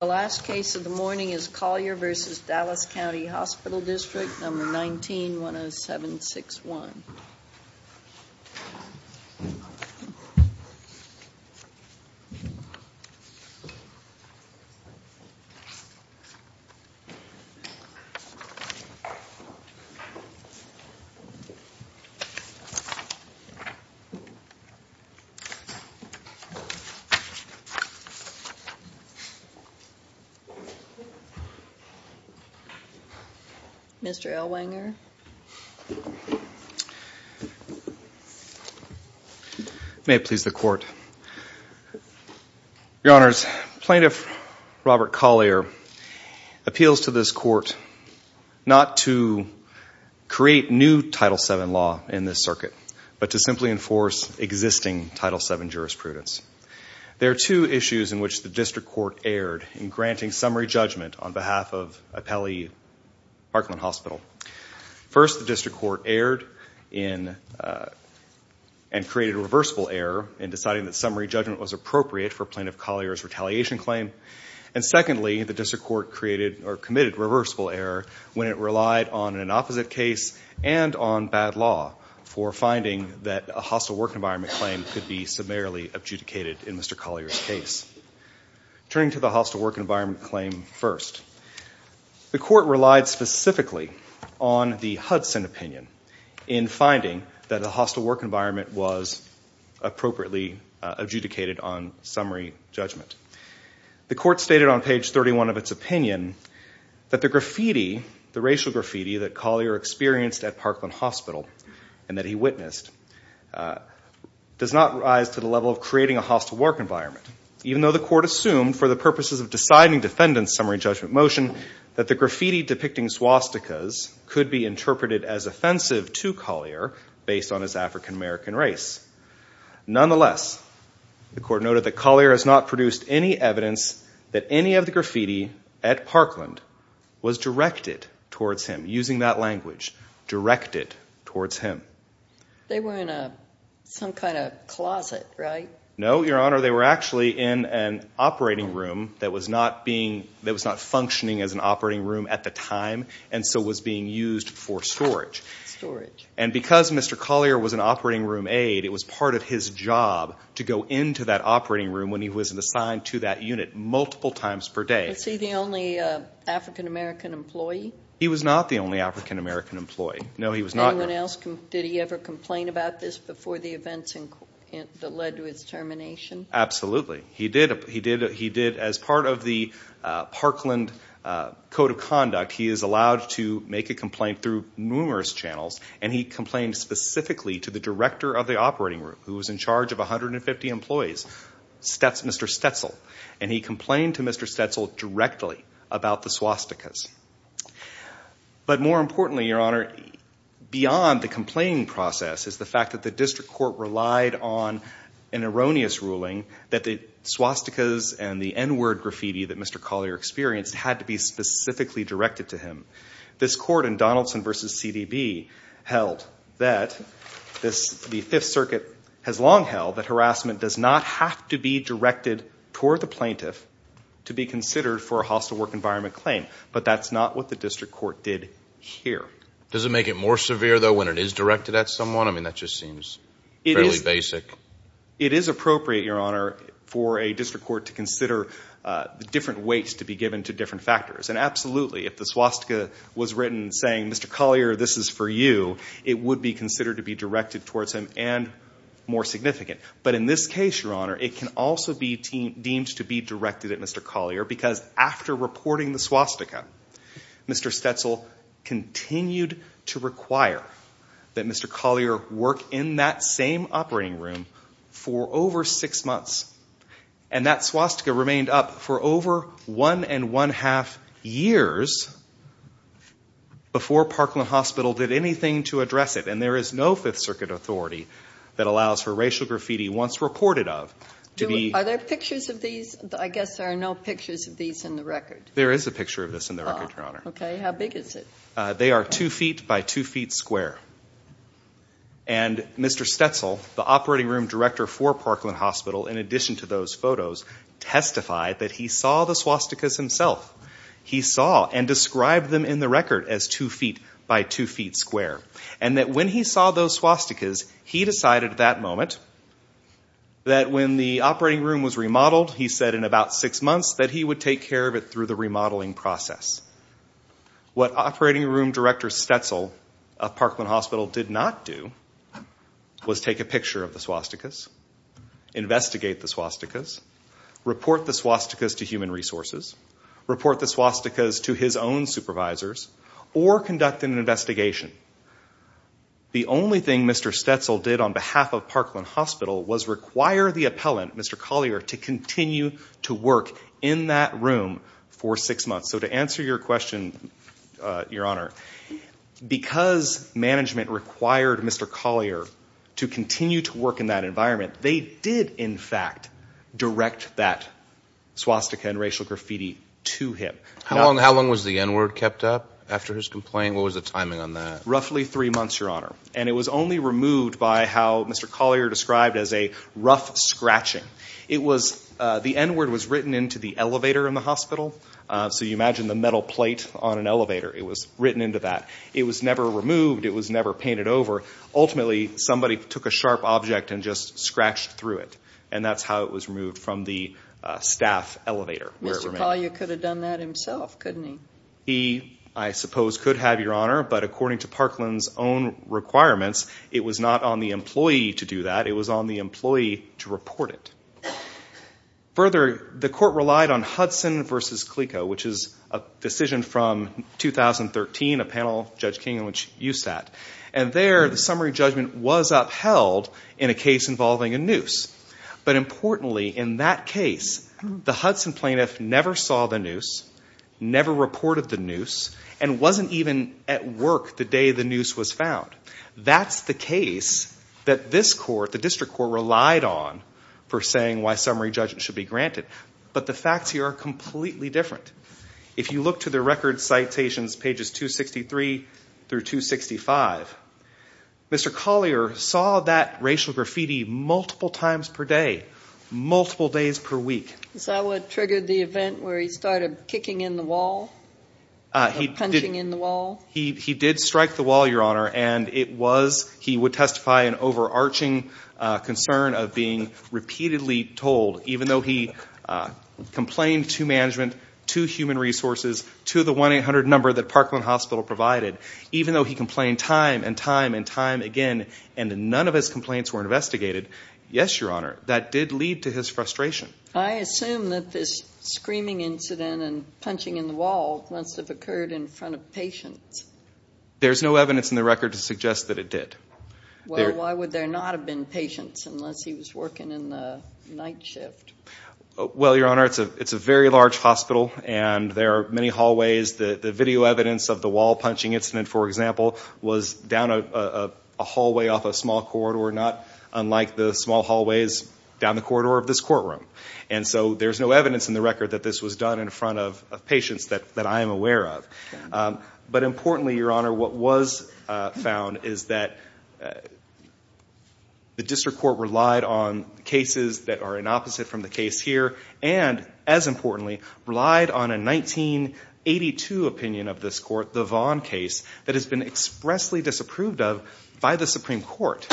The last case of the morning is Collier v. Dallas County Hospital District, No. 19-10761. Plaintiff Robert Collier appeals to this court not to create new Title VII law in this circuit, but to simply enforce existing Title VII jurisprudence. There are two issues in which the District Court erred in granting summary judgment on behalf of Appellee Parkland Hospital. First, the District Court erred and created a reversible error in deciding that summary judgment was appropriate for Plaintiff Collier's retaliation claim. Secondly, the District Court committed a reversible error when it relied on an opposite case and on bad law for finding that a hostile work environment claim could be summarily adjudicated in Mr. Collier's case. Turning to the hostile work environment claim first, the Court relied specifically on the Hudson opinion in finding that the hostile work environment was appropriately adjudicated on summary judgment. The Court stated on page 31 of its opinion that the racial graffiti that Collier experienced at Parkland Hospital and that he witnessed does not rise to the level of creating a hostile work environment, even though the Court assumed for the purposes of deciding defendant's summary judgment motion that the graffiti depicting swastikas could be interpreted as offensive to Collier based on his African-American race. Nonetheless, the Court noted that Collier has not produced any evidence that any of the graffiti at Parkland was directed towards him, using that language, directed towards him. They were in some kind of closet, right? No, Your Honor, they were actually in an operating room that was not functioning as an operating room at the time and so was being used for storage. Storage. And because Mr. Collier was an operating room aide, it was part of his job to go into that operating room when he was assigned to that unit multiple times per day. Was he the only African-American employee? He was not the only African-American employee. Anyone else, did he ever complain about this before the events that led to his termination? Absolutely. He did as part of the Parkland Code of Conduct. He is allowed to make a complaint through numerous channels, and he complained specifically to the director of the operating room, who was in charge of 150 employees, Mr. Stetzel. And he complained to Mr. Stetzel directly about the swastikas. But more importantly, Your Honor, beyond the complaining process is the fact that the district court relied on an erroneous ruling that the swastikas and the N-word graffiti that Mr. Collier experienced had to be specifically directed to him. This court in Donaldson v. CDB held that the Fifth Circuit has long held that harassment does not have to be directed toward the plaintiff to be considered for a hostile work environment claim. But that's not what the district court did here. Does it make it more severe, though, when it is directed at someone? I mean, that just seems fairly basic. It is appropriate, Your Honor, for a district court to consider different weights to be given to different factors. And absolutely, if the swastika was written saying, Mr. Collier, this is for you, it would be considered to be directed towards him and more significant. But in this case, Your Honor, it can also be deemed to be directed at Mr. Collier because after reporting the swastika, Mr. Stetzel continued to require that Mr. Collier work in that same operating room for over six months. And that swastika remained up for over one and one-half years before Parkland Hospital did anything to address it. And there is no Fifth Circuit authority that allows for racial graffiti once reported of. Are there pictures of these? I guess there are no pictures of these in the record. There is a picture of this in the record, Your Honor. Okay. How big is it? They are two feet by two feet square. And Mr. Stetzel, the operating room director for Parkland Hospital, in addition to those photos, testified that he saw the swastikas himself. He saw and described them in the record as two feet by two feet square. And that when he saw those swastikas, he decided at that moment that when the operating room was remodeled, he said in about six months, that he would take care of it through the remodeling process. What operating room director Stetzel of Parkland Hospital did not do was take a picture of the swastikas, investigate the swastikas, report the swastikas to human resources, report the swastikas to his own supervisors, or conduct an investigation. The only thing Mr. Stetzel did on behalf of Parkland Hospital was require the appellant, Mr. Collier, to continue to work in that room for six months. So to answer your question, Your Honor, because management required Mr. Collier to continue to work in that environment, they did, in fact, direct that swastika and racial graffiti to him. How long was the N-word kept up after his complaint? What was the timing on that? Roughly three months, Your Honor. And it was only removed by how Mr. Collier described as a rough scratching. It was, the N-word was written into the elevator in the hospital. So you imagine the metal plate on an elevator. It was written into that. It was never removed. It was never painted over. Ultimately, somebody took a sharp object and just scratched through it. And that's how it was removed from the staff elevator. Mr. Collier could have done that himself, couldn't he? He, I suppose, could have, Your Honor, but according to Parkland's own requirements, it was not on the employee to do that. It was on the employee to report it. Further, the court relied on Hudson v. Clico, which is a decision from 2013, a panel Judge King and which you sat. And there, the summary judgment was upheld in a case involving a noose. But importantly, in that case, the Hudson plaintiff never saw the noose, never reported the noose, and wasn't even at work the day the noose was found. That's the case that this court, the district court, relied on for saying why summary judgment should be granted. But the facts here are completely different. If you look to the record citations, pages 263 through 265, Mr. Collier saw that racial graffiti multiple times per day, multiple days per week. Is that what triggered the event where he started kicking in the wall, punching in the wall? He did strike the wall, Your Honor, and it was, he would testify, an overarching concern of being repeatedly told, even though he complained to management, to human resources, to the 1-800 number that Parkland Hospital provided. Even though he complained time and time and time again, and none of his complaints were investigated, yes, Your Honor, that did lead to his frustration. I assume that this screaming incident and punching in the wall must have occurred in front of patients. There's no evidence in the record to suggest that it did. Well, why would there not have been patients unless he was working in the night shift? Well, Your Honor, it's a very large hospital, and there are many hallways. The video evidence of the wall-punching incident, for example, was down a hallway off a small corridor, not unlike the small hallways down the corridor of this courtroom. And so there's no evidence in the record that this was done in front of patients that I am aware of. But importantly, Your Honor, what was found is that the district court relied on cases that are an opposite from the case here and, as importantly, relied on a 1982 opinion of this court, the Vaughn case, that has been expressly disapproved of by the Supreme Court.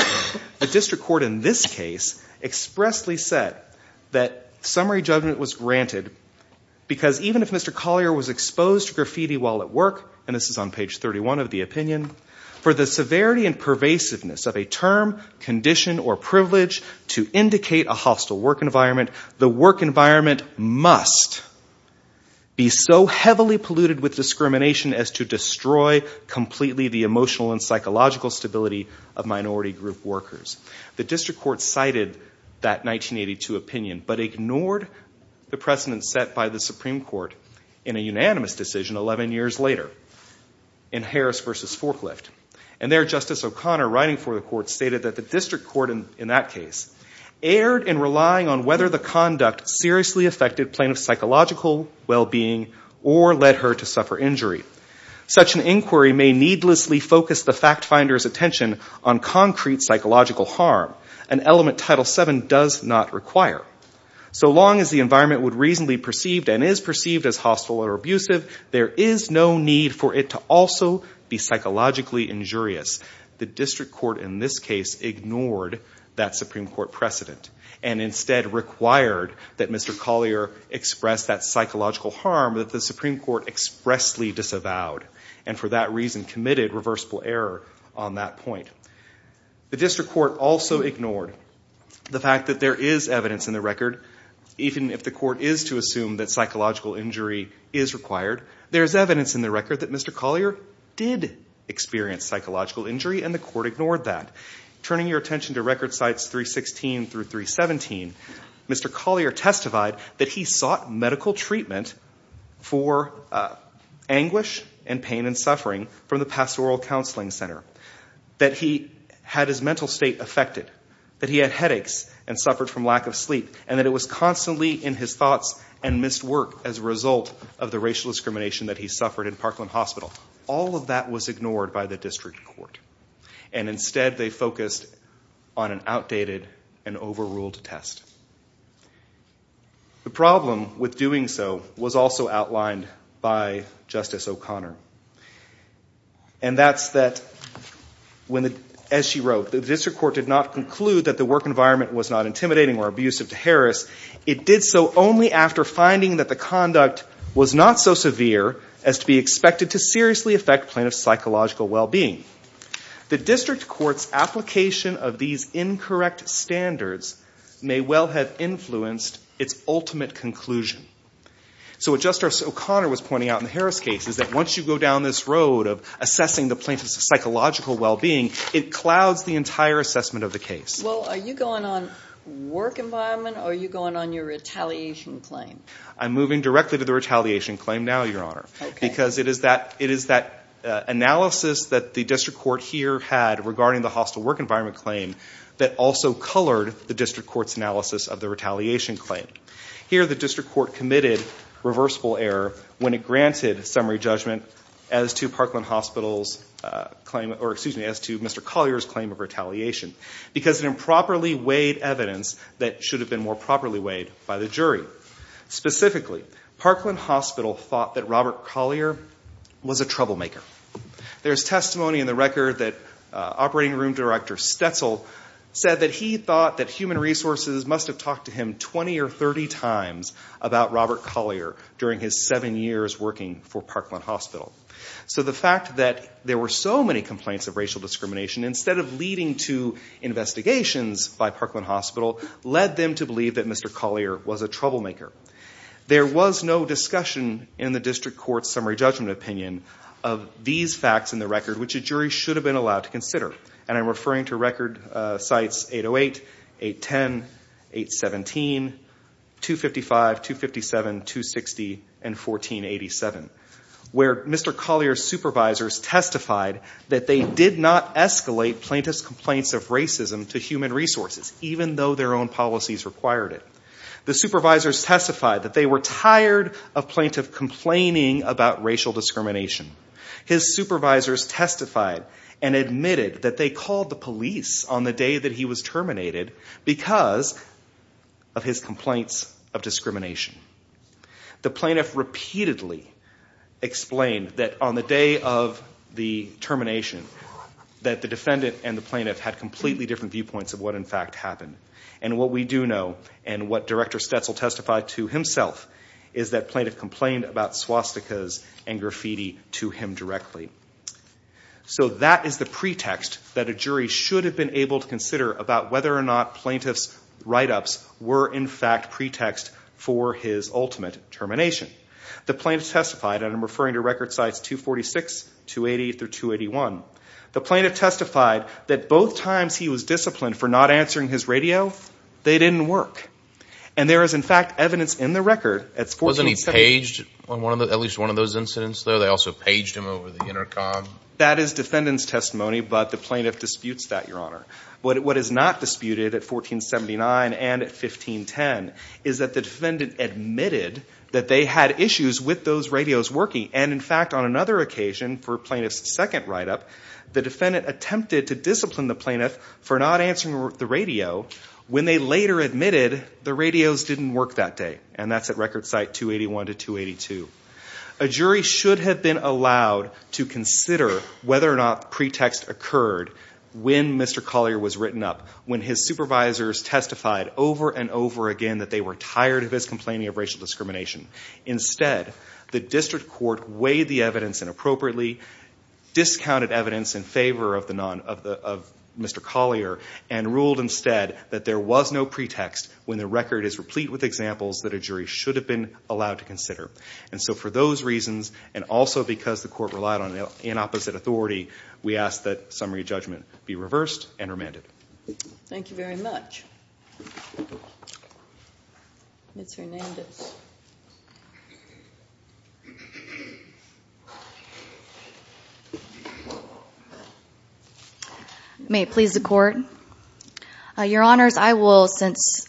The district court in this case expressly said that summary judgment was granted because even if Mr. Collier was exposed to graffiti while at work, and this is on page 31 of the opinion, for the severity and pervasiveness of a term, condition, or privilege to indicate a hostile work environment, the work environment must be so heavily polluted with discrimination as to destroy completely the emotional and psychological stability of minority group workers. The district court cited that 1982 opinion but ignored the precedent set by the Supreme Court in a unanimous decision 11 years later in Harris v. Forklift. And there Justice O'Connor, writing for the court, stated that the district court in that case erred in relying on whether the conduct seriously affected plaintiff's psychological well-being or led her to suffer injury. Such an inquiry may needlessly focus the fact finder's attention on concrete psychological harm. An element Title VII does not require. So long as the environment would reasonably perceived and is perceived as hostile or abusive, there is no need for it to also be psychologically injurious. The district court in this case ignored that Supreme Court precedent and instead required that Mr. Collier express that psychological harm that the Supreme Court expressly disavowed and for that reason committed reversible error on that point. The district court also ignored the fact that there is evidence in the record, even if the court is to assume that psychological injury is required, there is evidence in the record that Mr. Collier did experience psychological injury and the court ignored that. Turning your attention to record sites 316 through 317, Mr. Collier testified that he sought medical treatment for anguish and pain and suffering from the pastoral counseling center. That he had his mental state affected. That he had headaches and suffered from lack of sleep and that it was constantly in his thoughts and missed work as a result of the racial discrimination that he suffered in Parkland Hospital. All of that was ignored by the district court. And instead they focused on an outdated and overruled test. The problem with doing so was also outlined by Justice O'Connor. And that's that, as she wrote, the district court did not conclude that the work environment was not intimidating or abusive to Harris. It did so only after finding that the conduct was not so severe as to be expected to seriously affect plaintiff's psychological well-being. The district court's application of these incorrect standards may well have influenced its ultimate conclusion. So what Justice O'Connor was pointing out in the Harris case is that once you go down this road of assessing the plaintiff's psychological well-being, it clouds the entire assessment of the case. Well, are you going on work environment or are you going on your retaliation claim? I'm moving directly to the retaliation claim now, Your Honor. Because it is that analysis that the district court here had regarding the hostile work environment claim that also colored the district court's analysis of the retaliation claim. Here the district court committed reversible error when it granted summary judgment as to Mr. Collier's claim of retaliation. Because it improperly weighed evidence that should have been more properly weighed by the jury. Specifically, Parkland Hospital thought that Robert Collier was a troublemaker. There's testimony in the record that operating room director Stetzel said that he thought that human resources must have talked to him 20 or 30 times about Robert Collier during his seven years working for Parkland Hospital. So the fact that there were so many complaints of racial discrimination, instead of leading to investigations by Parkland Hospital, led them to believe that Mr. Collier was a troublemaker. There was no discussion in the district court's summary judgment opinion of these facts in the record, which a jury should have been allowed to consider. And I'm referring to record sites 808, 810, 817, 255, 257, 260, and 1487. Where Mr. Collier's supervisors testified that they did not escalate plaintiff's complaints of racism to human resources, even though their own policies required it. The supervisors testified that they were tired of plaintiff complaining about racial discrimination. His supervisors testified and admitted that they called the police on the day that he was terminated because of his complaints of discrimination. The plaintiff repeatedly explained that on the day of the termination that the defendant and the plaintiff had completely different viewpoints of what in fact happened. And what we do know, and what Director Stetzel testified to himself, is that plaintiff complained about swastikas and graffiti to him directly. So that is the pretext that a jury should have been able to consider about whether or not plaintiff's write-ups were in fact pretext for his ultimate termination. The plaintiff testified, and I'm referring to record sites 246, 280, through 281. The plaintiff testified that both times he was disciplined for not answering his radio, they didn't work. And there is in fact evidence in the record at 1487. At least one of those incidents there, they also paged him over the intercom. That is defendant's testimony, but the plaintiff disputes that, Your Honor. What is not disputed at 1479 and at 1510 is that the defendant admitted that they had issues with those radios working. And in fact, on another occasion for plaintiff's second write-up, the defendant attempted to discipline the plaintiff for not answering the radio when they later admitted the radios didn't work that day. And that's at record site 281 to 282. A jury should have been allowed to consider whether or not pretext occurred when Mr. Collier was written up, when his supervisors testified over and over again that they were tired of his complaining of racial discrimination. Instead, the district court weighed the evidence inappropriately, discounted evidence in favor of Mr. Collier, and ruled instead that there was no pretext when the record is replete with examples that a jury should have been allowed to consider. And so for those reasons, and also because the court relied on an opposite authority, we ask that summary judgment be reversed and remanded. Thank you very much. Ms. Hernandez. May it please the court. Your Honors, I will, since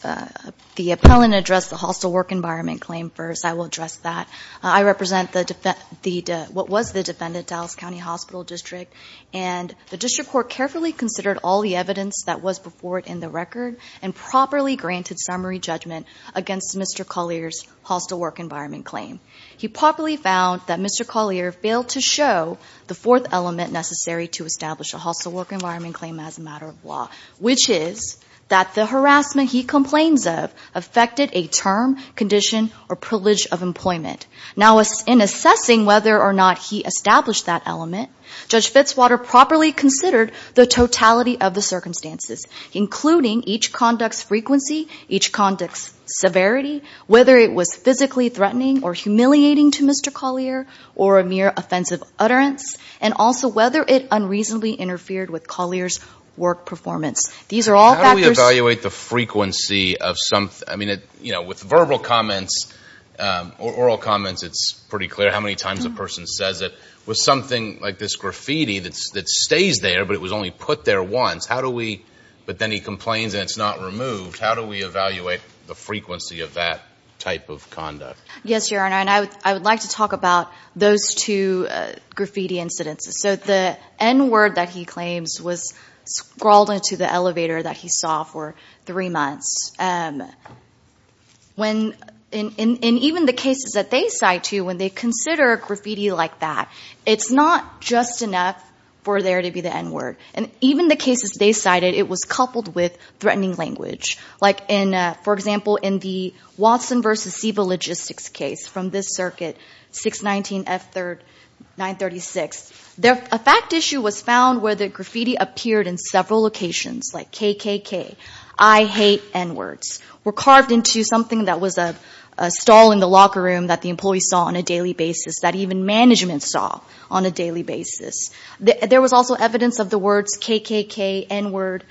the appellant addressed the hostile work environment claim first, I will address that. I represent what was the defendant, Dallas County Hospital District, and the district court carefully considered all the evidence that was before it in the record and properly granted summary judgment against Mr. Collier's hostile work environment claim. He properly found that Mr. Collier failed to show the fourth element necessary to establish a hostile work environment claim as a matter of law, which is that the harassment he complains of affected a term, condition, or privilege of employment. Now, in assessing whether or not he established that element, Judge Fitzwater properly considered the totality of the circumstances, including each conduct's frequency, each conduct's severity, whether it was physically threatening or humiliating to Mr. Collier, or a mere offensive utterance, and also whether it unreasonably interfered with Collier's work performance. How do we evaluate the frequency of something? I mean, you know, with verbal comments or oral comments, it's pretty clear how many times a person says it. With something like this graffiti that stays there but it was only put there once, how do we, but then he complains and it's not removed, how do we evaluate the frequency of that type of conduct? Yes, Your Honor, and I would like to talk about those two graffiti incidents. So the N-word that he claims was scrawled into the elevator that he saw for three months. When, in even the cases that they cite too, when they consider graffiti like that, it's not just enough for there to be the N-word. And even the cases they cited, it was coupled with threatening language. For example, in the Watson v. Siva logistics case from this circuit, 619F936, a fact issue was found where the graffiti appeared in several locations, like KKK, I hate N-words, were carved into something that was a stall in the locker room that the employees saw on a daily basis, that even management saw on a daily basis. There was also evidence of the words KKK, N-word,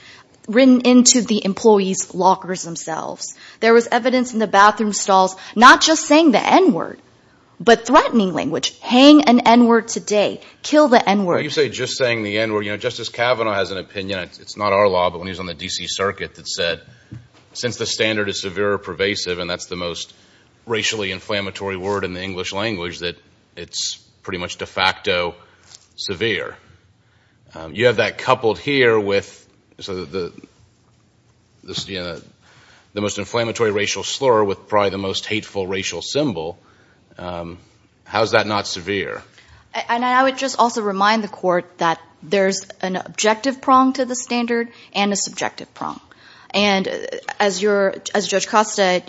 written into the employees' lockers themselves. There was evidence in the bathroom stalls, not just saying the N-word, but threatening language. Hang an N-word today. Kill the N-word. You say just saying the N-word. You know, Justice Kavanaugh has an opinion, it's not our law, but when he was on the D.C. Circuit, that said since the standard is severe or pervasive, and that's the most racially inflammatory word in the English language, that it's pretty much de facto severe. You have that coupled here with the most inflammatory racial slur with probably the most hateful racial symbol. How is that not severe? And I would just also remind the Court that there's an objective prong to the standard and a subjective prong. And as Judge Costa,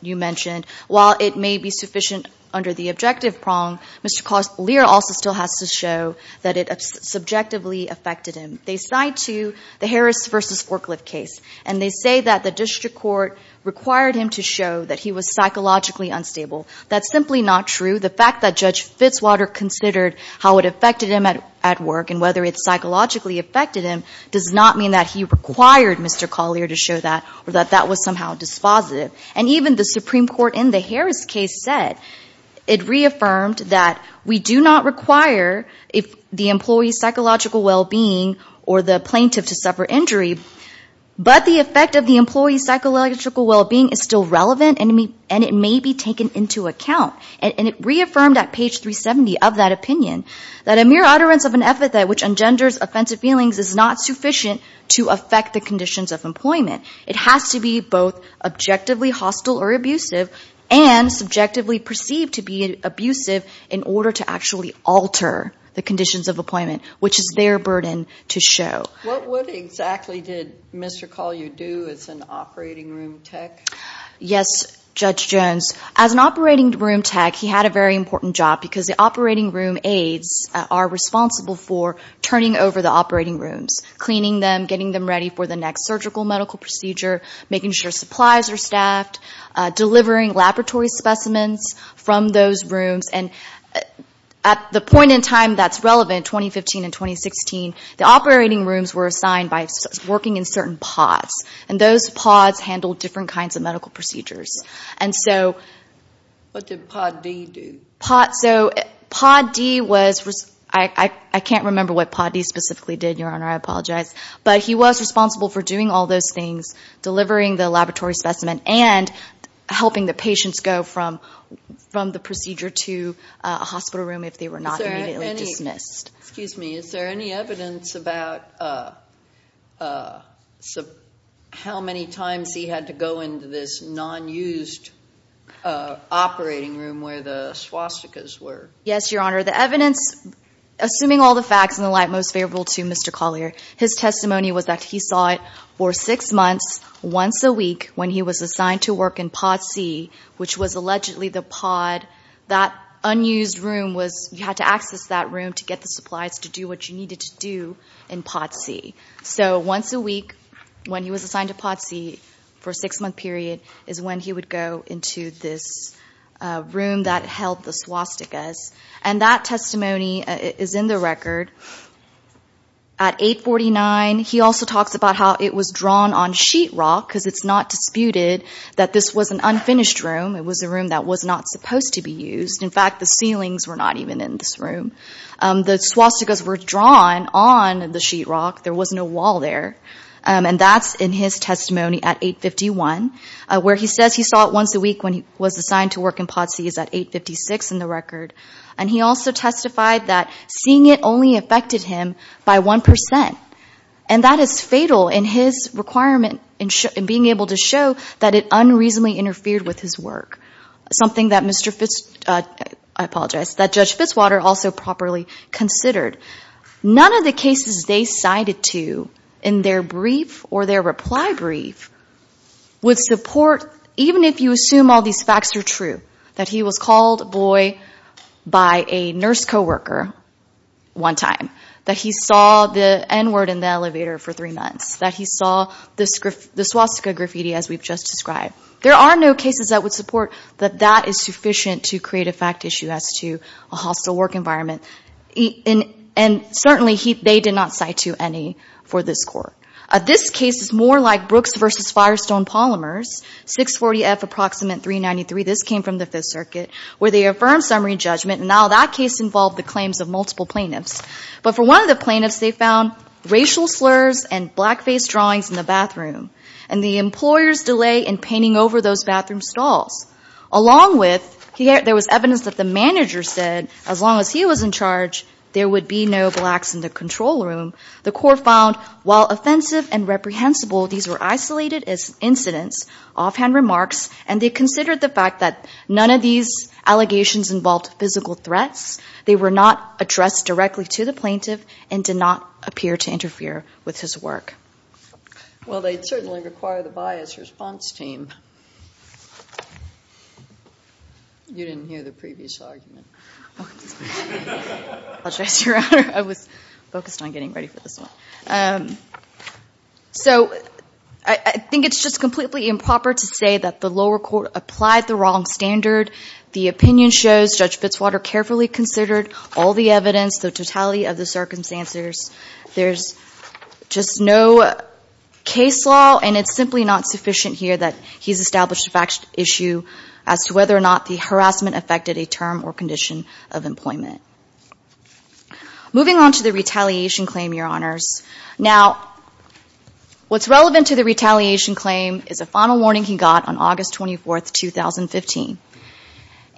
you mentioned, while it may be sufficient under the objective prong, Mr. Lear also still has to show that it subjectively affected him. They side to the Harris v. Forklift case, and they say that the district court required him to show that he was psychologically unstable. That's simply not true. The fact that Judge Fitzwater considered how it affected him at work and whether it psychologically affected him does not mean that he required Mr. Collier to show that or that that was somehow dispositive. And even the Supreme Court in the Harris case said, it reaffirmed that we do not require the employee's psychological well-being or the plaintiff to suffer injury, but the effect of the employee's psychological well-being is still relevant and it may be taken into account. And it reaffirmed at page 370 of that opinion, that a mere utterance of an epithet which engenders offensive feelings is not sufficient to affect the conditions of employment. It has to be both objectively hostile or abusive and subjectively perceived to be abusive in order to actually alter the conditions of employment, which is their burden to show. What exactly did Mr. Collier do as an operating room tech? Yes, Judge Jones. As an operating room tech, he had a very important job because the operating room aides are responsible for turning over the operating rooms, cleaning them, getting them ready for the next surgical medical procedure, making sure supplies are staffed, delivering laboratory specimens from those rooms. And at the point in time that's relevant, 2015 and 2016, the operating rooms were assigned by working in certain pods. And those pods handled different kinds of medical procedures. What did Pod D do? I can't remember what Pod D specifically did, Your Honor. I apologize. But he was responsible for doing all those things, delivering the laboratory specimen and helping the patients go from the procedure to a hospital room if they were not immediately dismissed. Excuse me. Is there any evidence about how many times he had to go into this non-used operating room where the swastikas were? Yes, Your Honor. The evidence, assuming all the facts in the light most favorable to Mr. Collier, his testimony was that he saw it for six months once a week when he was assigned to work in Pod C, which was allegedly the pod that unused room was you had to access that room to get the supplies to do what you needed to do in Pod C. So once a week when he was assigned to Pod C for a six-month period is when he would go into this room that held the swastikas. And that testimony is in the record. At 849, he also talks about how it was drawn on sheetrock because it's not disputed that this was an unfinished room. It was a room that was not supposed to be used. In fact, the ceilings were not even in this room. The swastikas were drawn on the sheetrock. There was no wall there. And that's in his testimony at 851, where he says he saw it once a week when he was assigned to work in Pod C is at 856 in the record. And he also testified that seeing it only affected him by one percent. And that is fatal in his requirement in being able to show that it unreasonably interfered with his work, something that Mr. Fitz, I apologize, that Judge Fitzwater also properly considered. None of the cases they cited to in their brief or their reply brief would support, even if you assume all these facts are true, that he was called a boy by a nurse co-worker one time, that he saw the N-word in the elevator for three months, that he saw the swastika graffiti as we've just described. There are no cases that would support that that is sufficient to create a fact issue as to a hostile work environment. And certainly they did not cite to any for this court. This case is more like Brooks versus Firestone polymers, 640F Approximate 393. This came from the Fifth Circuit, where they affirmed summary judgment. And now that case involved the claims of multiple plaintiffs. But for one of the plaintiffs, they found racial slurs and blackface drawings in the bathroom and the employer's delay in painting over those bathroom stalls. Along with there was evidence that the manager said as long as he was in charge, there would be no blacks in the control room. The court found while offensive and reprehensible, these were isolated as incidents, offhand remarks, and they considered the fact that none of these allegations involved physical threats. They were not addressed directly to the plaintiff and did not appear to interfere with his work. Well, they certainly require the bias response team. You didn't hear the previous argument. I apologize, Your Honor. I was focused on getting ready for this one. So I think it's just completely improper to say that the lower court applied the wrong standard. The opinion shows Judge Fitzwater carefully considered all the evidence, the totality of the circumstances. There's just no case law, and it's simply not sufficient here that he's established a fact issue as to whether or not the harassment affected a term or condition of employment. Moving on to the retaliation claim, Your Honors. Now, what's relevant to the retaliation claim is a final warning he got on August 24, 2015,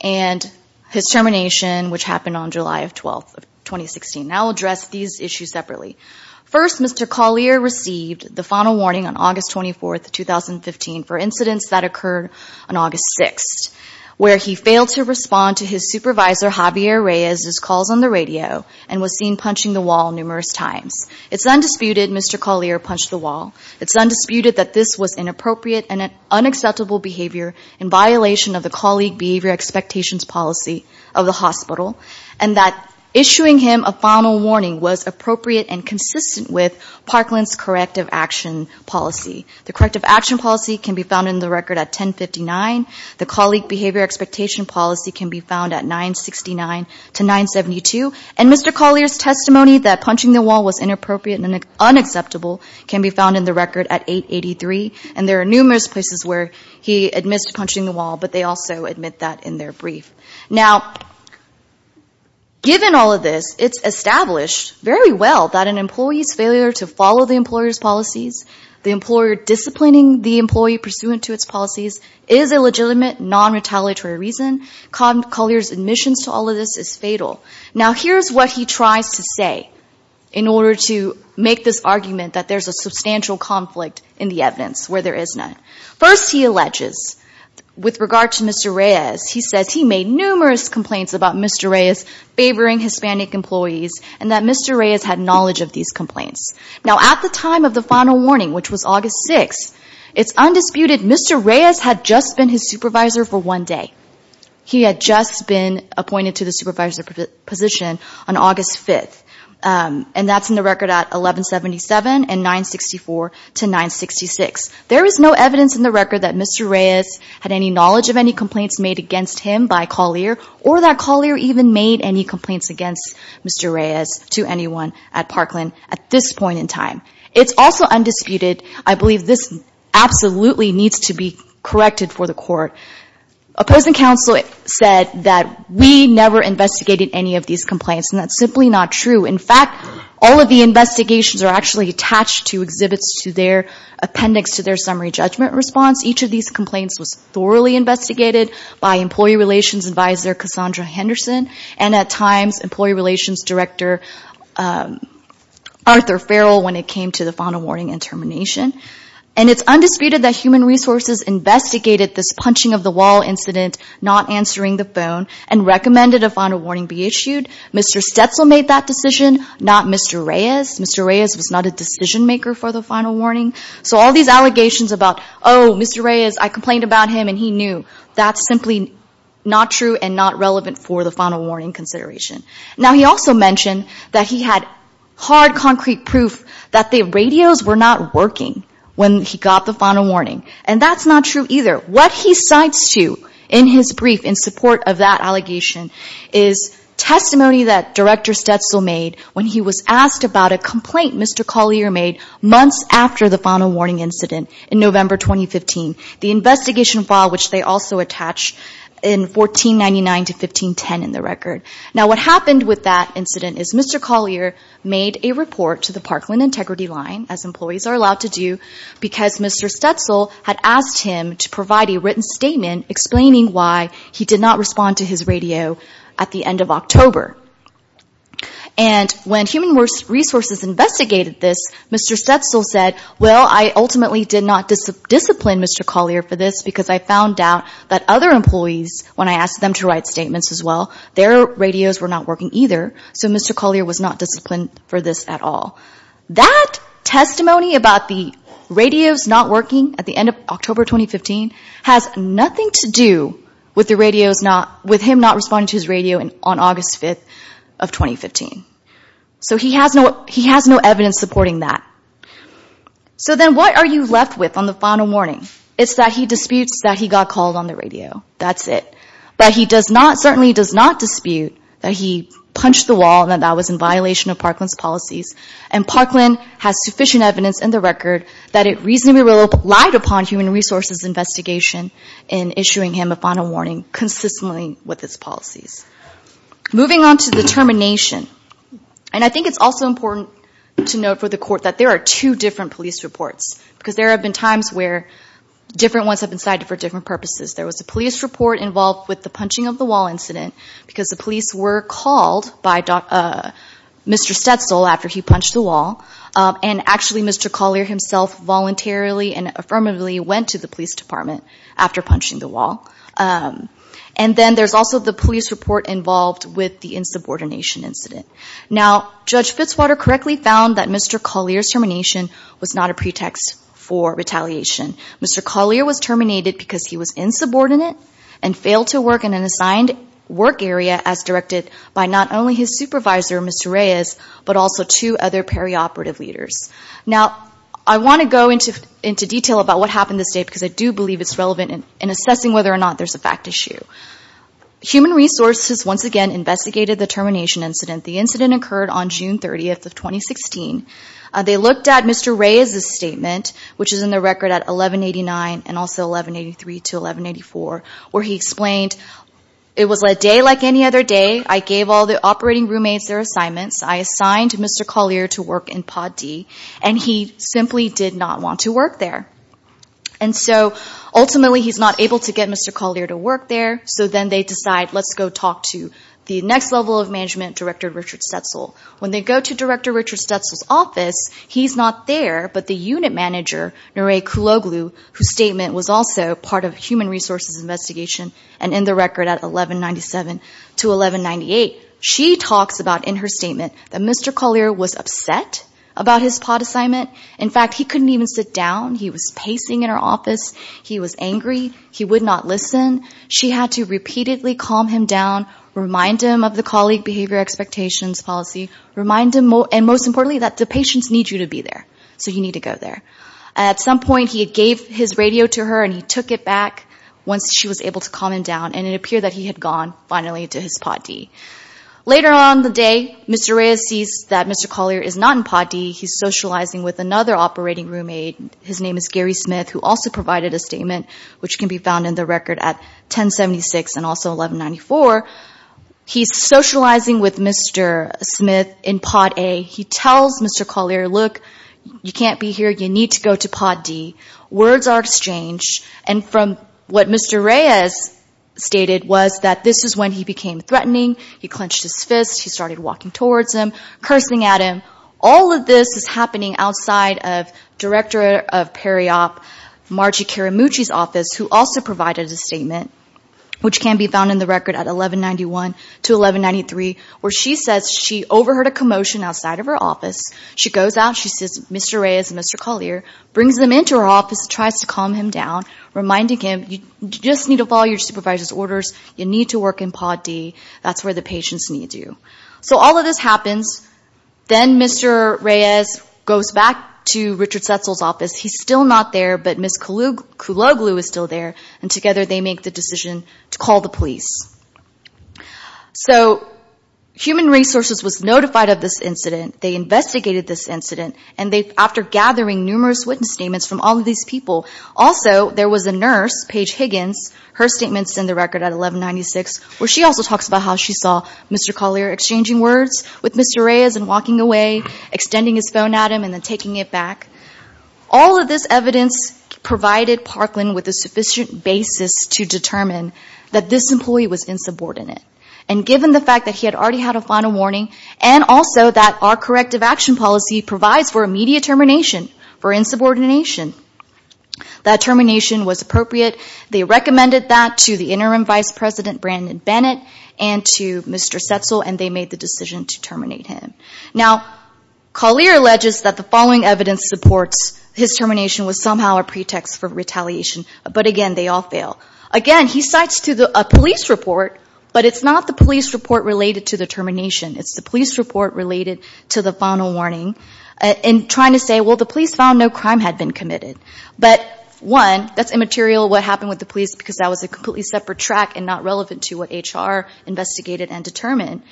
and his termination, which happened on July 12, 2016. Now I'll address these issues separately. First, Mr. Collier received the final warning on August 24, 2015 for incidents that occurred on August 6, where he failed to respond to his supervisor, Javier Reyes's calls on the radio, and was seen punching the wall numerous times. It's undisputed Mr. Collier punched the wall. It's undisputed that this was inappropriate and unacceptable behavior in violation of the colleague behavior expectations policy of the hospital, and that issuing him a final warning was appropriate and consistent with Parkland's corrective action policy. The corrective action policy can be found in the record at 1059. The colleague behavior expectation policy can be found at 969 to 972. And Mr. Collier's testimony that punching the wall was inappropriate and unacceptable can be found in the record at 883. And there are numerous places where he admits to punching the wall, but they also admit that in their brief. Now, given all of this, it's established very well that an employee's failure to follow the employer's policies, the employer disciplining the employee pursuant to its policies, is a legitimate, non-retaliatory reason. Collier's admissions to all of this is fatal. Now here's what he tries to say in order to make this argument that there's a substantial conflict in the evidence where there is none. First, he alleges, with regard to Mr. Reyes, he says he made numerous complaints about Mr. Reyes favoring Hispanic employees and that Mr. Reyes had knowledge of these complaints. Now, at the time of the final warning, which was August 6th, it's undisputed Mr. Reyes had just been his supervisor for one day. He had just been appointed to the supervisor position on August 5th, and that's in the record at 1177 and 964 to 966. There is no evidence in the record that Mr. Reyes had any knowledge of any complaints made against him by Collier or that Collier even made any complaints against Mr. Reyes to anyone at Parkland at this point in time. It's also undisputed. I believe this absolutely needs to be corrected for the court. Opposing counsel said that we never investigated any of these complaints, and that's simply not true. In fact, all of the investigations are actually attached to exhibits to their appendix to their summary judgment response. Each of these complaints was thoroughly investigated by Employee Relations Advisor Cassandra Henderson and, at times, Employee Relations Director Arthur Farrell when it came to the final warning and termination. And it's undisputed that Human Resources investigated this punching-of-the-wall incident, not answering the phone, and recommended a final warning be issued. Mr. Stetzel made that decision, not Mr. Reyes. Mr. Reyes was not a decision-maker for the final warning. So all these allegations about, oh, Mr. Reyes, I complained about him, and he knew, that's simply not true and not relevant for the final warning consideration. Now, he also mentioned that he had hard, concrete proof that the radios were not working when he got the final warning. And that's not true either. What he cites, too, in his brief in support of that allegation, is testimony that Director Stetzel made when he was asked about a complaint Mr. Collier made months after the final warning incident in November 2015. The investigation file, which they also attach in 1499 to 1510 in the record. Now, what happened with that incident is Mr. Collier made a report to the Parkland Integrity Line, as employees are allowed to do, because Mr. Stetzel had asked him to provide a written statement explaining why he did not respond to his radio at the end of October. And when Human Resources investigated this, Mr. Stetzel said, well, I ultimately did not discipline Mr. Collier for this, because I found out that other employees, when I asked them to write statements as well, their radios were not working either, so Mr. Collier was not disciplined for this at all. That testimony about the radios not working at the end of October 2015 has nothing to do with him not responding to his radio on August 5th of 2015. So he has no evidence supporting that. So then what are you left with on the final warning? It's that he disputes that he got called on the radio. That's it. But he certainly does not dispute that he punched the wall and that that was in violation of Parkland's policies. And Parkland has sufficient evidence in the record that it reasonably relied upon Human Resources' investigation in issuing him a final warning consistently with its policies. Moving on to the termination. And I think it's also important to note for the Court that there are two different police reports, because there have been times where different ones have been cited for different purposes. There was a police report involved with the punching of the wall incident, because the police were called by Mr. Stetzel after he punched the wall, and actually Mr. Collier himself voluntarily and affirmatively went to the police department after punching the wall. And then there's also the police report involved with the insubordination incident. Now, Judge Fitzwater correctly found that Mr. Collier's termination was not a pretext for retaliation. Mr. Collier was terminated because he was insubordinate and failed to work in an assigned work area as directed by not only his supervisor, Mr. Reyes, but also two other perioperative leaders. Now, I want to go into detail about what happened this day, because I do believe it's relevant in assessing whether or not there's a fact issue. Human Resources once again investigated the termination incident. The incident occurred on June 30th of 2016. They looked at Mr. Reyes's statement, which is in the record at 1189 and also 1183 to 1184, where he explained, it was a day like any other day. I gave all the operating roommates their assignments. I assigned Mr. Collier to work in Pod D, and he simply did not want to work there. And so ultimately he's not able to get Mr. Collier to work there, so then they decide let's go talk to the next level of management, Director Richard Stetzel. When they go to Director Richard Stetzel's office, he's not there, but the unit manager, Nore Kuloglu, whose statement was also part of Human Resources investigation, and in the record at 1197 to 1198, she talks about in her statement that Mr. Collier was upset about his pod assignment. In fact, he couldn't even sit down. He was pacing in her office. He was angry. He would not listen. She had to repeatedly calm him down, remind him of the colleague behavior expectations policy, remind him, and most importantly, that the patients need you to be there, so you need to go there. At some point he gave his radio to her, and he took it back once she was able to calm him down, and it appeared that he had gone, finally, to his Pod D. Later on in the day, Mr. Reyes sees that Mr. Collier is not in Pod D. He's socializing with another operating roommate. His name is Gary Smith, who also provided a statement, which can be found in the record at 1076 and also 1194. He's socializing with Mr. Smith in Pod A. He tells Mr. Collier, look, you can't be here. You need to go to Pod D. Words are exchanged, and from what Mr. Reyes stated was that this is when he became threatening. He clenched his fist. He started walking towards him, cursing at him. All of this is happening outside of Director of PERI-OP Margie Karamucci's office, who also provided a statement, which can be found in the record at 1191 to 1193, where she says she overheard a commotion outside of her office. She goes out. She sees Mr. Reyes and Mr. Collier, brings them into her office, tries to calm him down, reminding him, you just need to follow your supervisor's orders. You need to work in Pod D. That's where the patients need you. So all of this happens. Then Mr. Reyes goes back to Richard Setzel's office. He's still not there, but Ms. Kuloglu is still there, and together they make the decision to call the police. So Human Resources was notified of this incident. They investigated this incident, and after gathering numerous witness statements from all of these people, also there was a nurse, Paige Higgins. Her statement's in the record at 1196, where she also talks about how she saw Mr. Collier exchanging words with Mr. Reyes and walking away, extending his phone at him and then taking it back. All of this evidence provided Parkland with a sufficient basis to determine that this employee was insubordinate. And given the fact that he had already had a final warning, and also that our corrective action policy provides for immediate termination for insubordination, that termination was appropriate. They recommended that to the interim vice president, Brandon Bennett, and to Mr. Setzel, and they made the decision to terminate him. Now, Collier alleges that the following evidence supports his termination was somehow a pretext for retaliation. But again, they all fail. Again, he cites a police report, but it's not the police report related to the termination. It's the police report related to the final warning, and trying to say, well, the police found no crime had been committed. But, one, that's immaterial, what happened with the police, because that was a completely separate track and not relevant to what HR investigated and determined.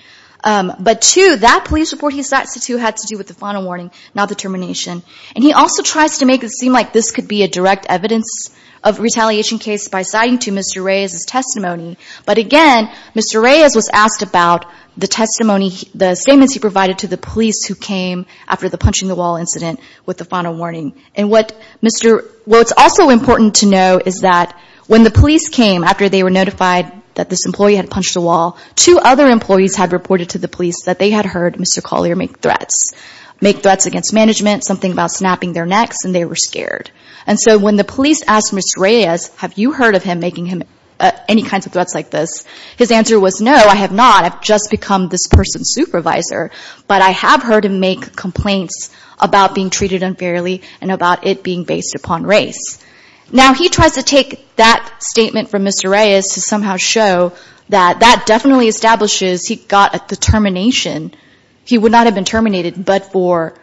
But, two, that police report he cites, too, had to do with the final warning, not the termination. And he also tries to make it seem like this could be a direct evidence of retaliation case by citing to Mr. Reyes' testimony. But again, Mr. Reyes was asked about the testimony, the statements he provided to the police who came after the punching the wall incident with the final warning. And what's also important to know is that when the police came after they were notified that this employee had punched a wall, two other employees had reported to the police that they had heard Mr. Collier make threats, make threats against management, something about snapping their necks, and they were scared. And so when the police asked Mr. Reyes, have you heard of him making any kinds of threats like this, his answer was, no, I have not, I've just become this person's supervisor, but I have heard him make complaints about being treated unfairly and about it being based upon race. Now, he tries to take that statement from Mr. Reyes to somehow show that that definitely establishes he got the termination. He would not have been terminated but for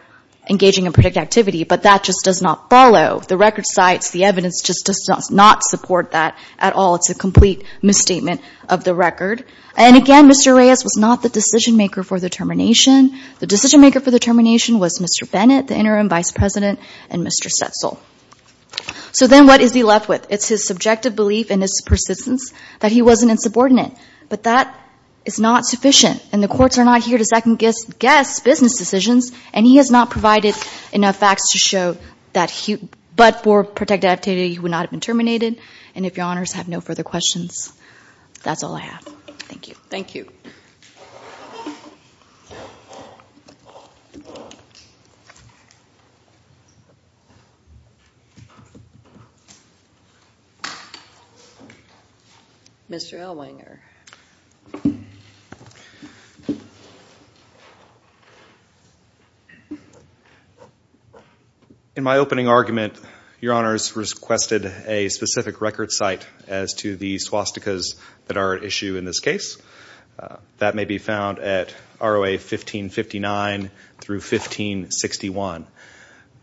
engaging in predicted activity, but that just does not follow. The record cites the evidence just does not support that at all. It's a complete misstatement of the record. And again, Mr. Reyes was not the decision-maker for the termination. The decision-maker for the termination was Mr. Bennett, the interim vice president, and Mr. Setzel. So then what is he left with? It's his subjective belief and his persistence that he wasn't insubordinate. But that is not sufficient, and the courts are not here to second-guess business decisions, and he has not provided enough facts to show that but for predicted activity, he would not have been terminated. And if your honors have no further questions, that's all I have. Thank you. Thank you. Mr. Elwanger. In my opening argument, your honors requested a specific record cite as to the swastikas that are at issue in this case. That may be found at ROA 1559 through 1561.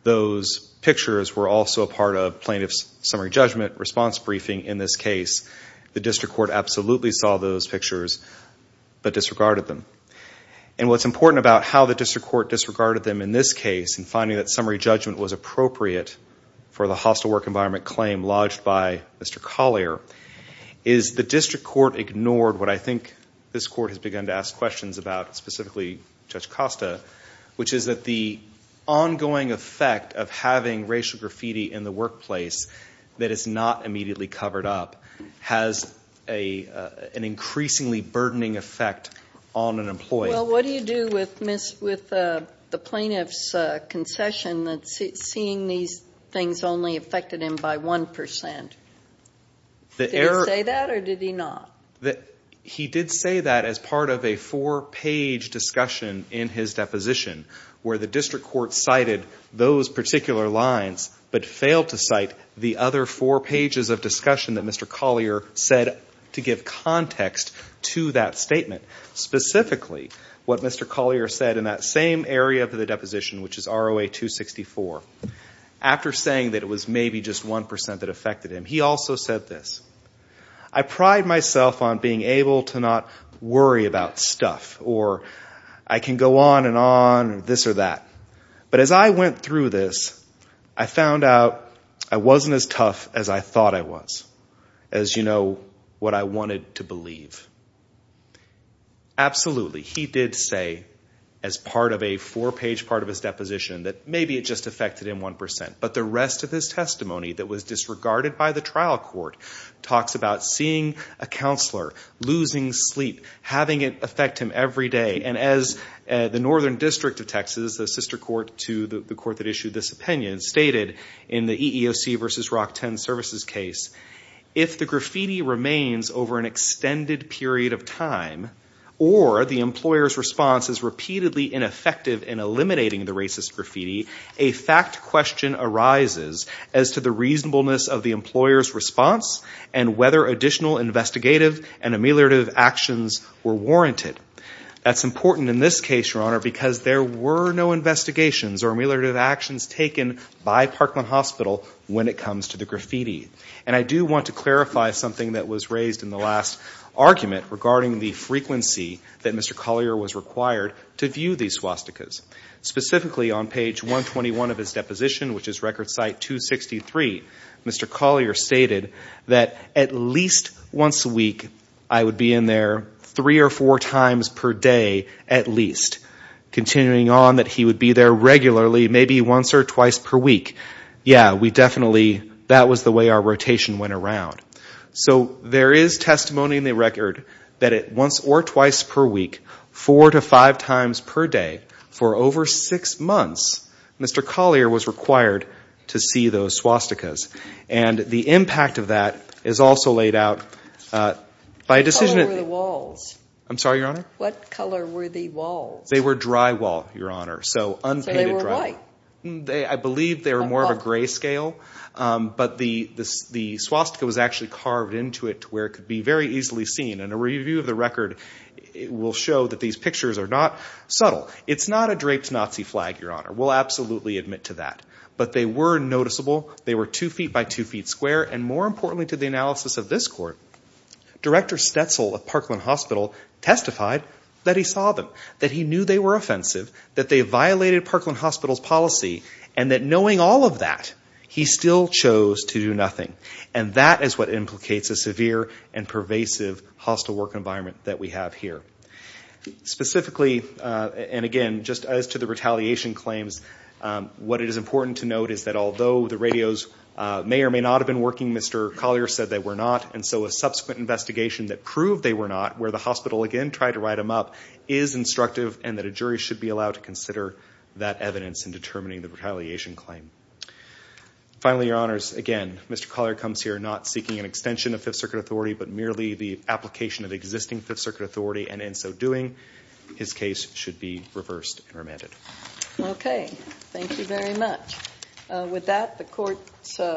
Those pictures were also a part of plaintiff's summary judgment response briefing in this case. The district court absolutely saw that. They saw those pictures but disregarded them. And what's important about how the district court disregarded them in this case and finding that summary judgment was appropriate for the hostile work environment claim lodged by Mr. Collier is the district court ignored what I think this court has begun to ask questions about, specifically Judge Costa, which is that the ongoing effect of having racial graffiti in the workplace that is not immediately covered up has an increasingly burdening effect on an employee. Well, what do you do with the plaintiff's concession that seeing these things only affected him by 1 percent? Did he say that or did he not? He did say that as part of a four-page discussion in his deposition where the district court cited those particular lines but failed to cite the other four pages of discussion that Mr. Collier said to give context to that statement, specifically what Mr. Collier said in that same area of the deposition, which is ROA 264. After saying that it was maybe just 1 percent that affected him, he also said this, I pride myself on being able to not worry about stuff or I can go on and on, this or that. But as I went through this, I found out I wasn't as tough as I thought I was, as you know, what I wanted to believe. Absolutely, he did say as part of a four-page part of his deposition that maybe it just affected him 1 percent. But the rest of his testimony that was disregarded by the trial court talks about seeing a counselor, losing sleep, having it affect him every day. And as the Northern District of Texas, the sister court to the court that issued this opinion, stated in the EEOC v. Rockton Services case, if the graffiti remains over an extended period of time or the employer's response is repeatedly ineffective in eliminating the racist graffiti, a fact question arises as to the reasonableness of the employer's response and whether additional investigative and ameliorative actions were warranted. That's important in this case, Your Honor, because there were no investigations or ameliorative actions taken by Parkland Hospital when it comes to the graffiti. And I do want to clarify something that was raised in the last argument regarding the frequency that Mr. Collier was required to view these swastikas. Specifically on page 121 of his deposition, which is record site 263, Mr. Collier stated that at least once a week I would be in there three or four times per day at least. Continuing on that he would be there regularly, maybe once or twice per week. Yeah, we definitely, that was the way our rotation went around. So there is testimony in the record that at once or twice per week, four to five times per day for over six months, Mr. Collier was required to see those swastikas. And the impact of that is also laid out by a decision... What color were the walls? I'm sorry, Your Honor? What color were the walls? They were drywall, Your Honor. So unpainted drywall. I believe they were more of a gray scale, but the swastika was actually carved into it where it could be very easily seen. And a review of the record will show that these pictures are not subtle. It's not a draped Nazi flag, Your Honor. We'll absolutely admit to that. But they were noticeable. They were two feet by two feet square. And more importantly to the analysis of this court, Director Stetzel of Parkland Hospital testified that he saw them, that he knew they were offensive, that they violated Parkland Hospital's policy, and that knowing all of that he still chose to do nothing. And that is what implicates a severe and pervasive hostile work environment that we have here. Specifically, and again, just as to the retaliation claims, what it is important to note is that although the radios may or may not have been working, Mr. Collier said they were not. And so a subsequent investigation that proved they were not, where the hospital again tried to write them up, is instructive and that a jury should be allowed to consider that evidence in determining the retaliation claim. Finally, Your Honors, again, Mr. Collier comes here not seeking an extension of Fifth Circuit authority, but merely the application of existing Fifth Circuit authority. And in so doing, his case should be reversed and remanded. Okay. Thank you very much. With that, the court's adjourned.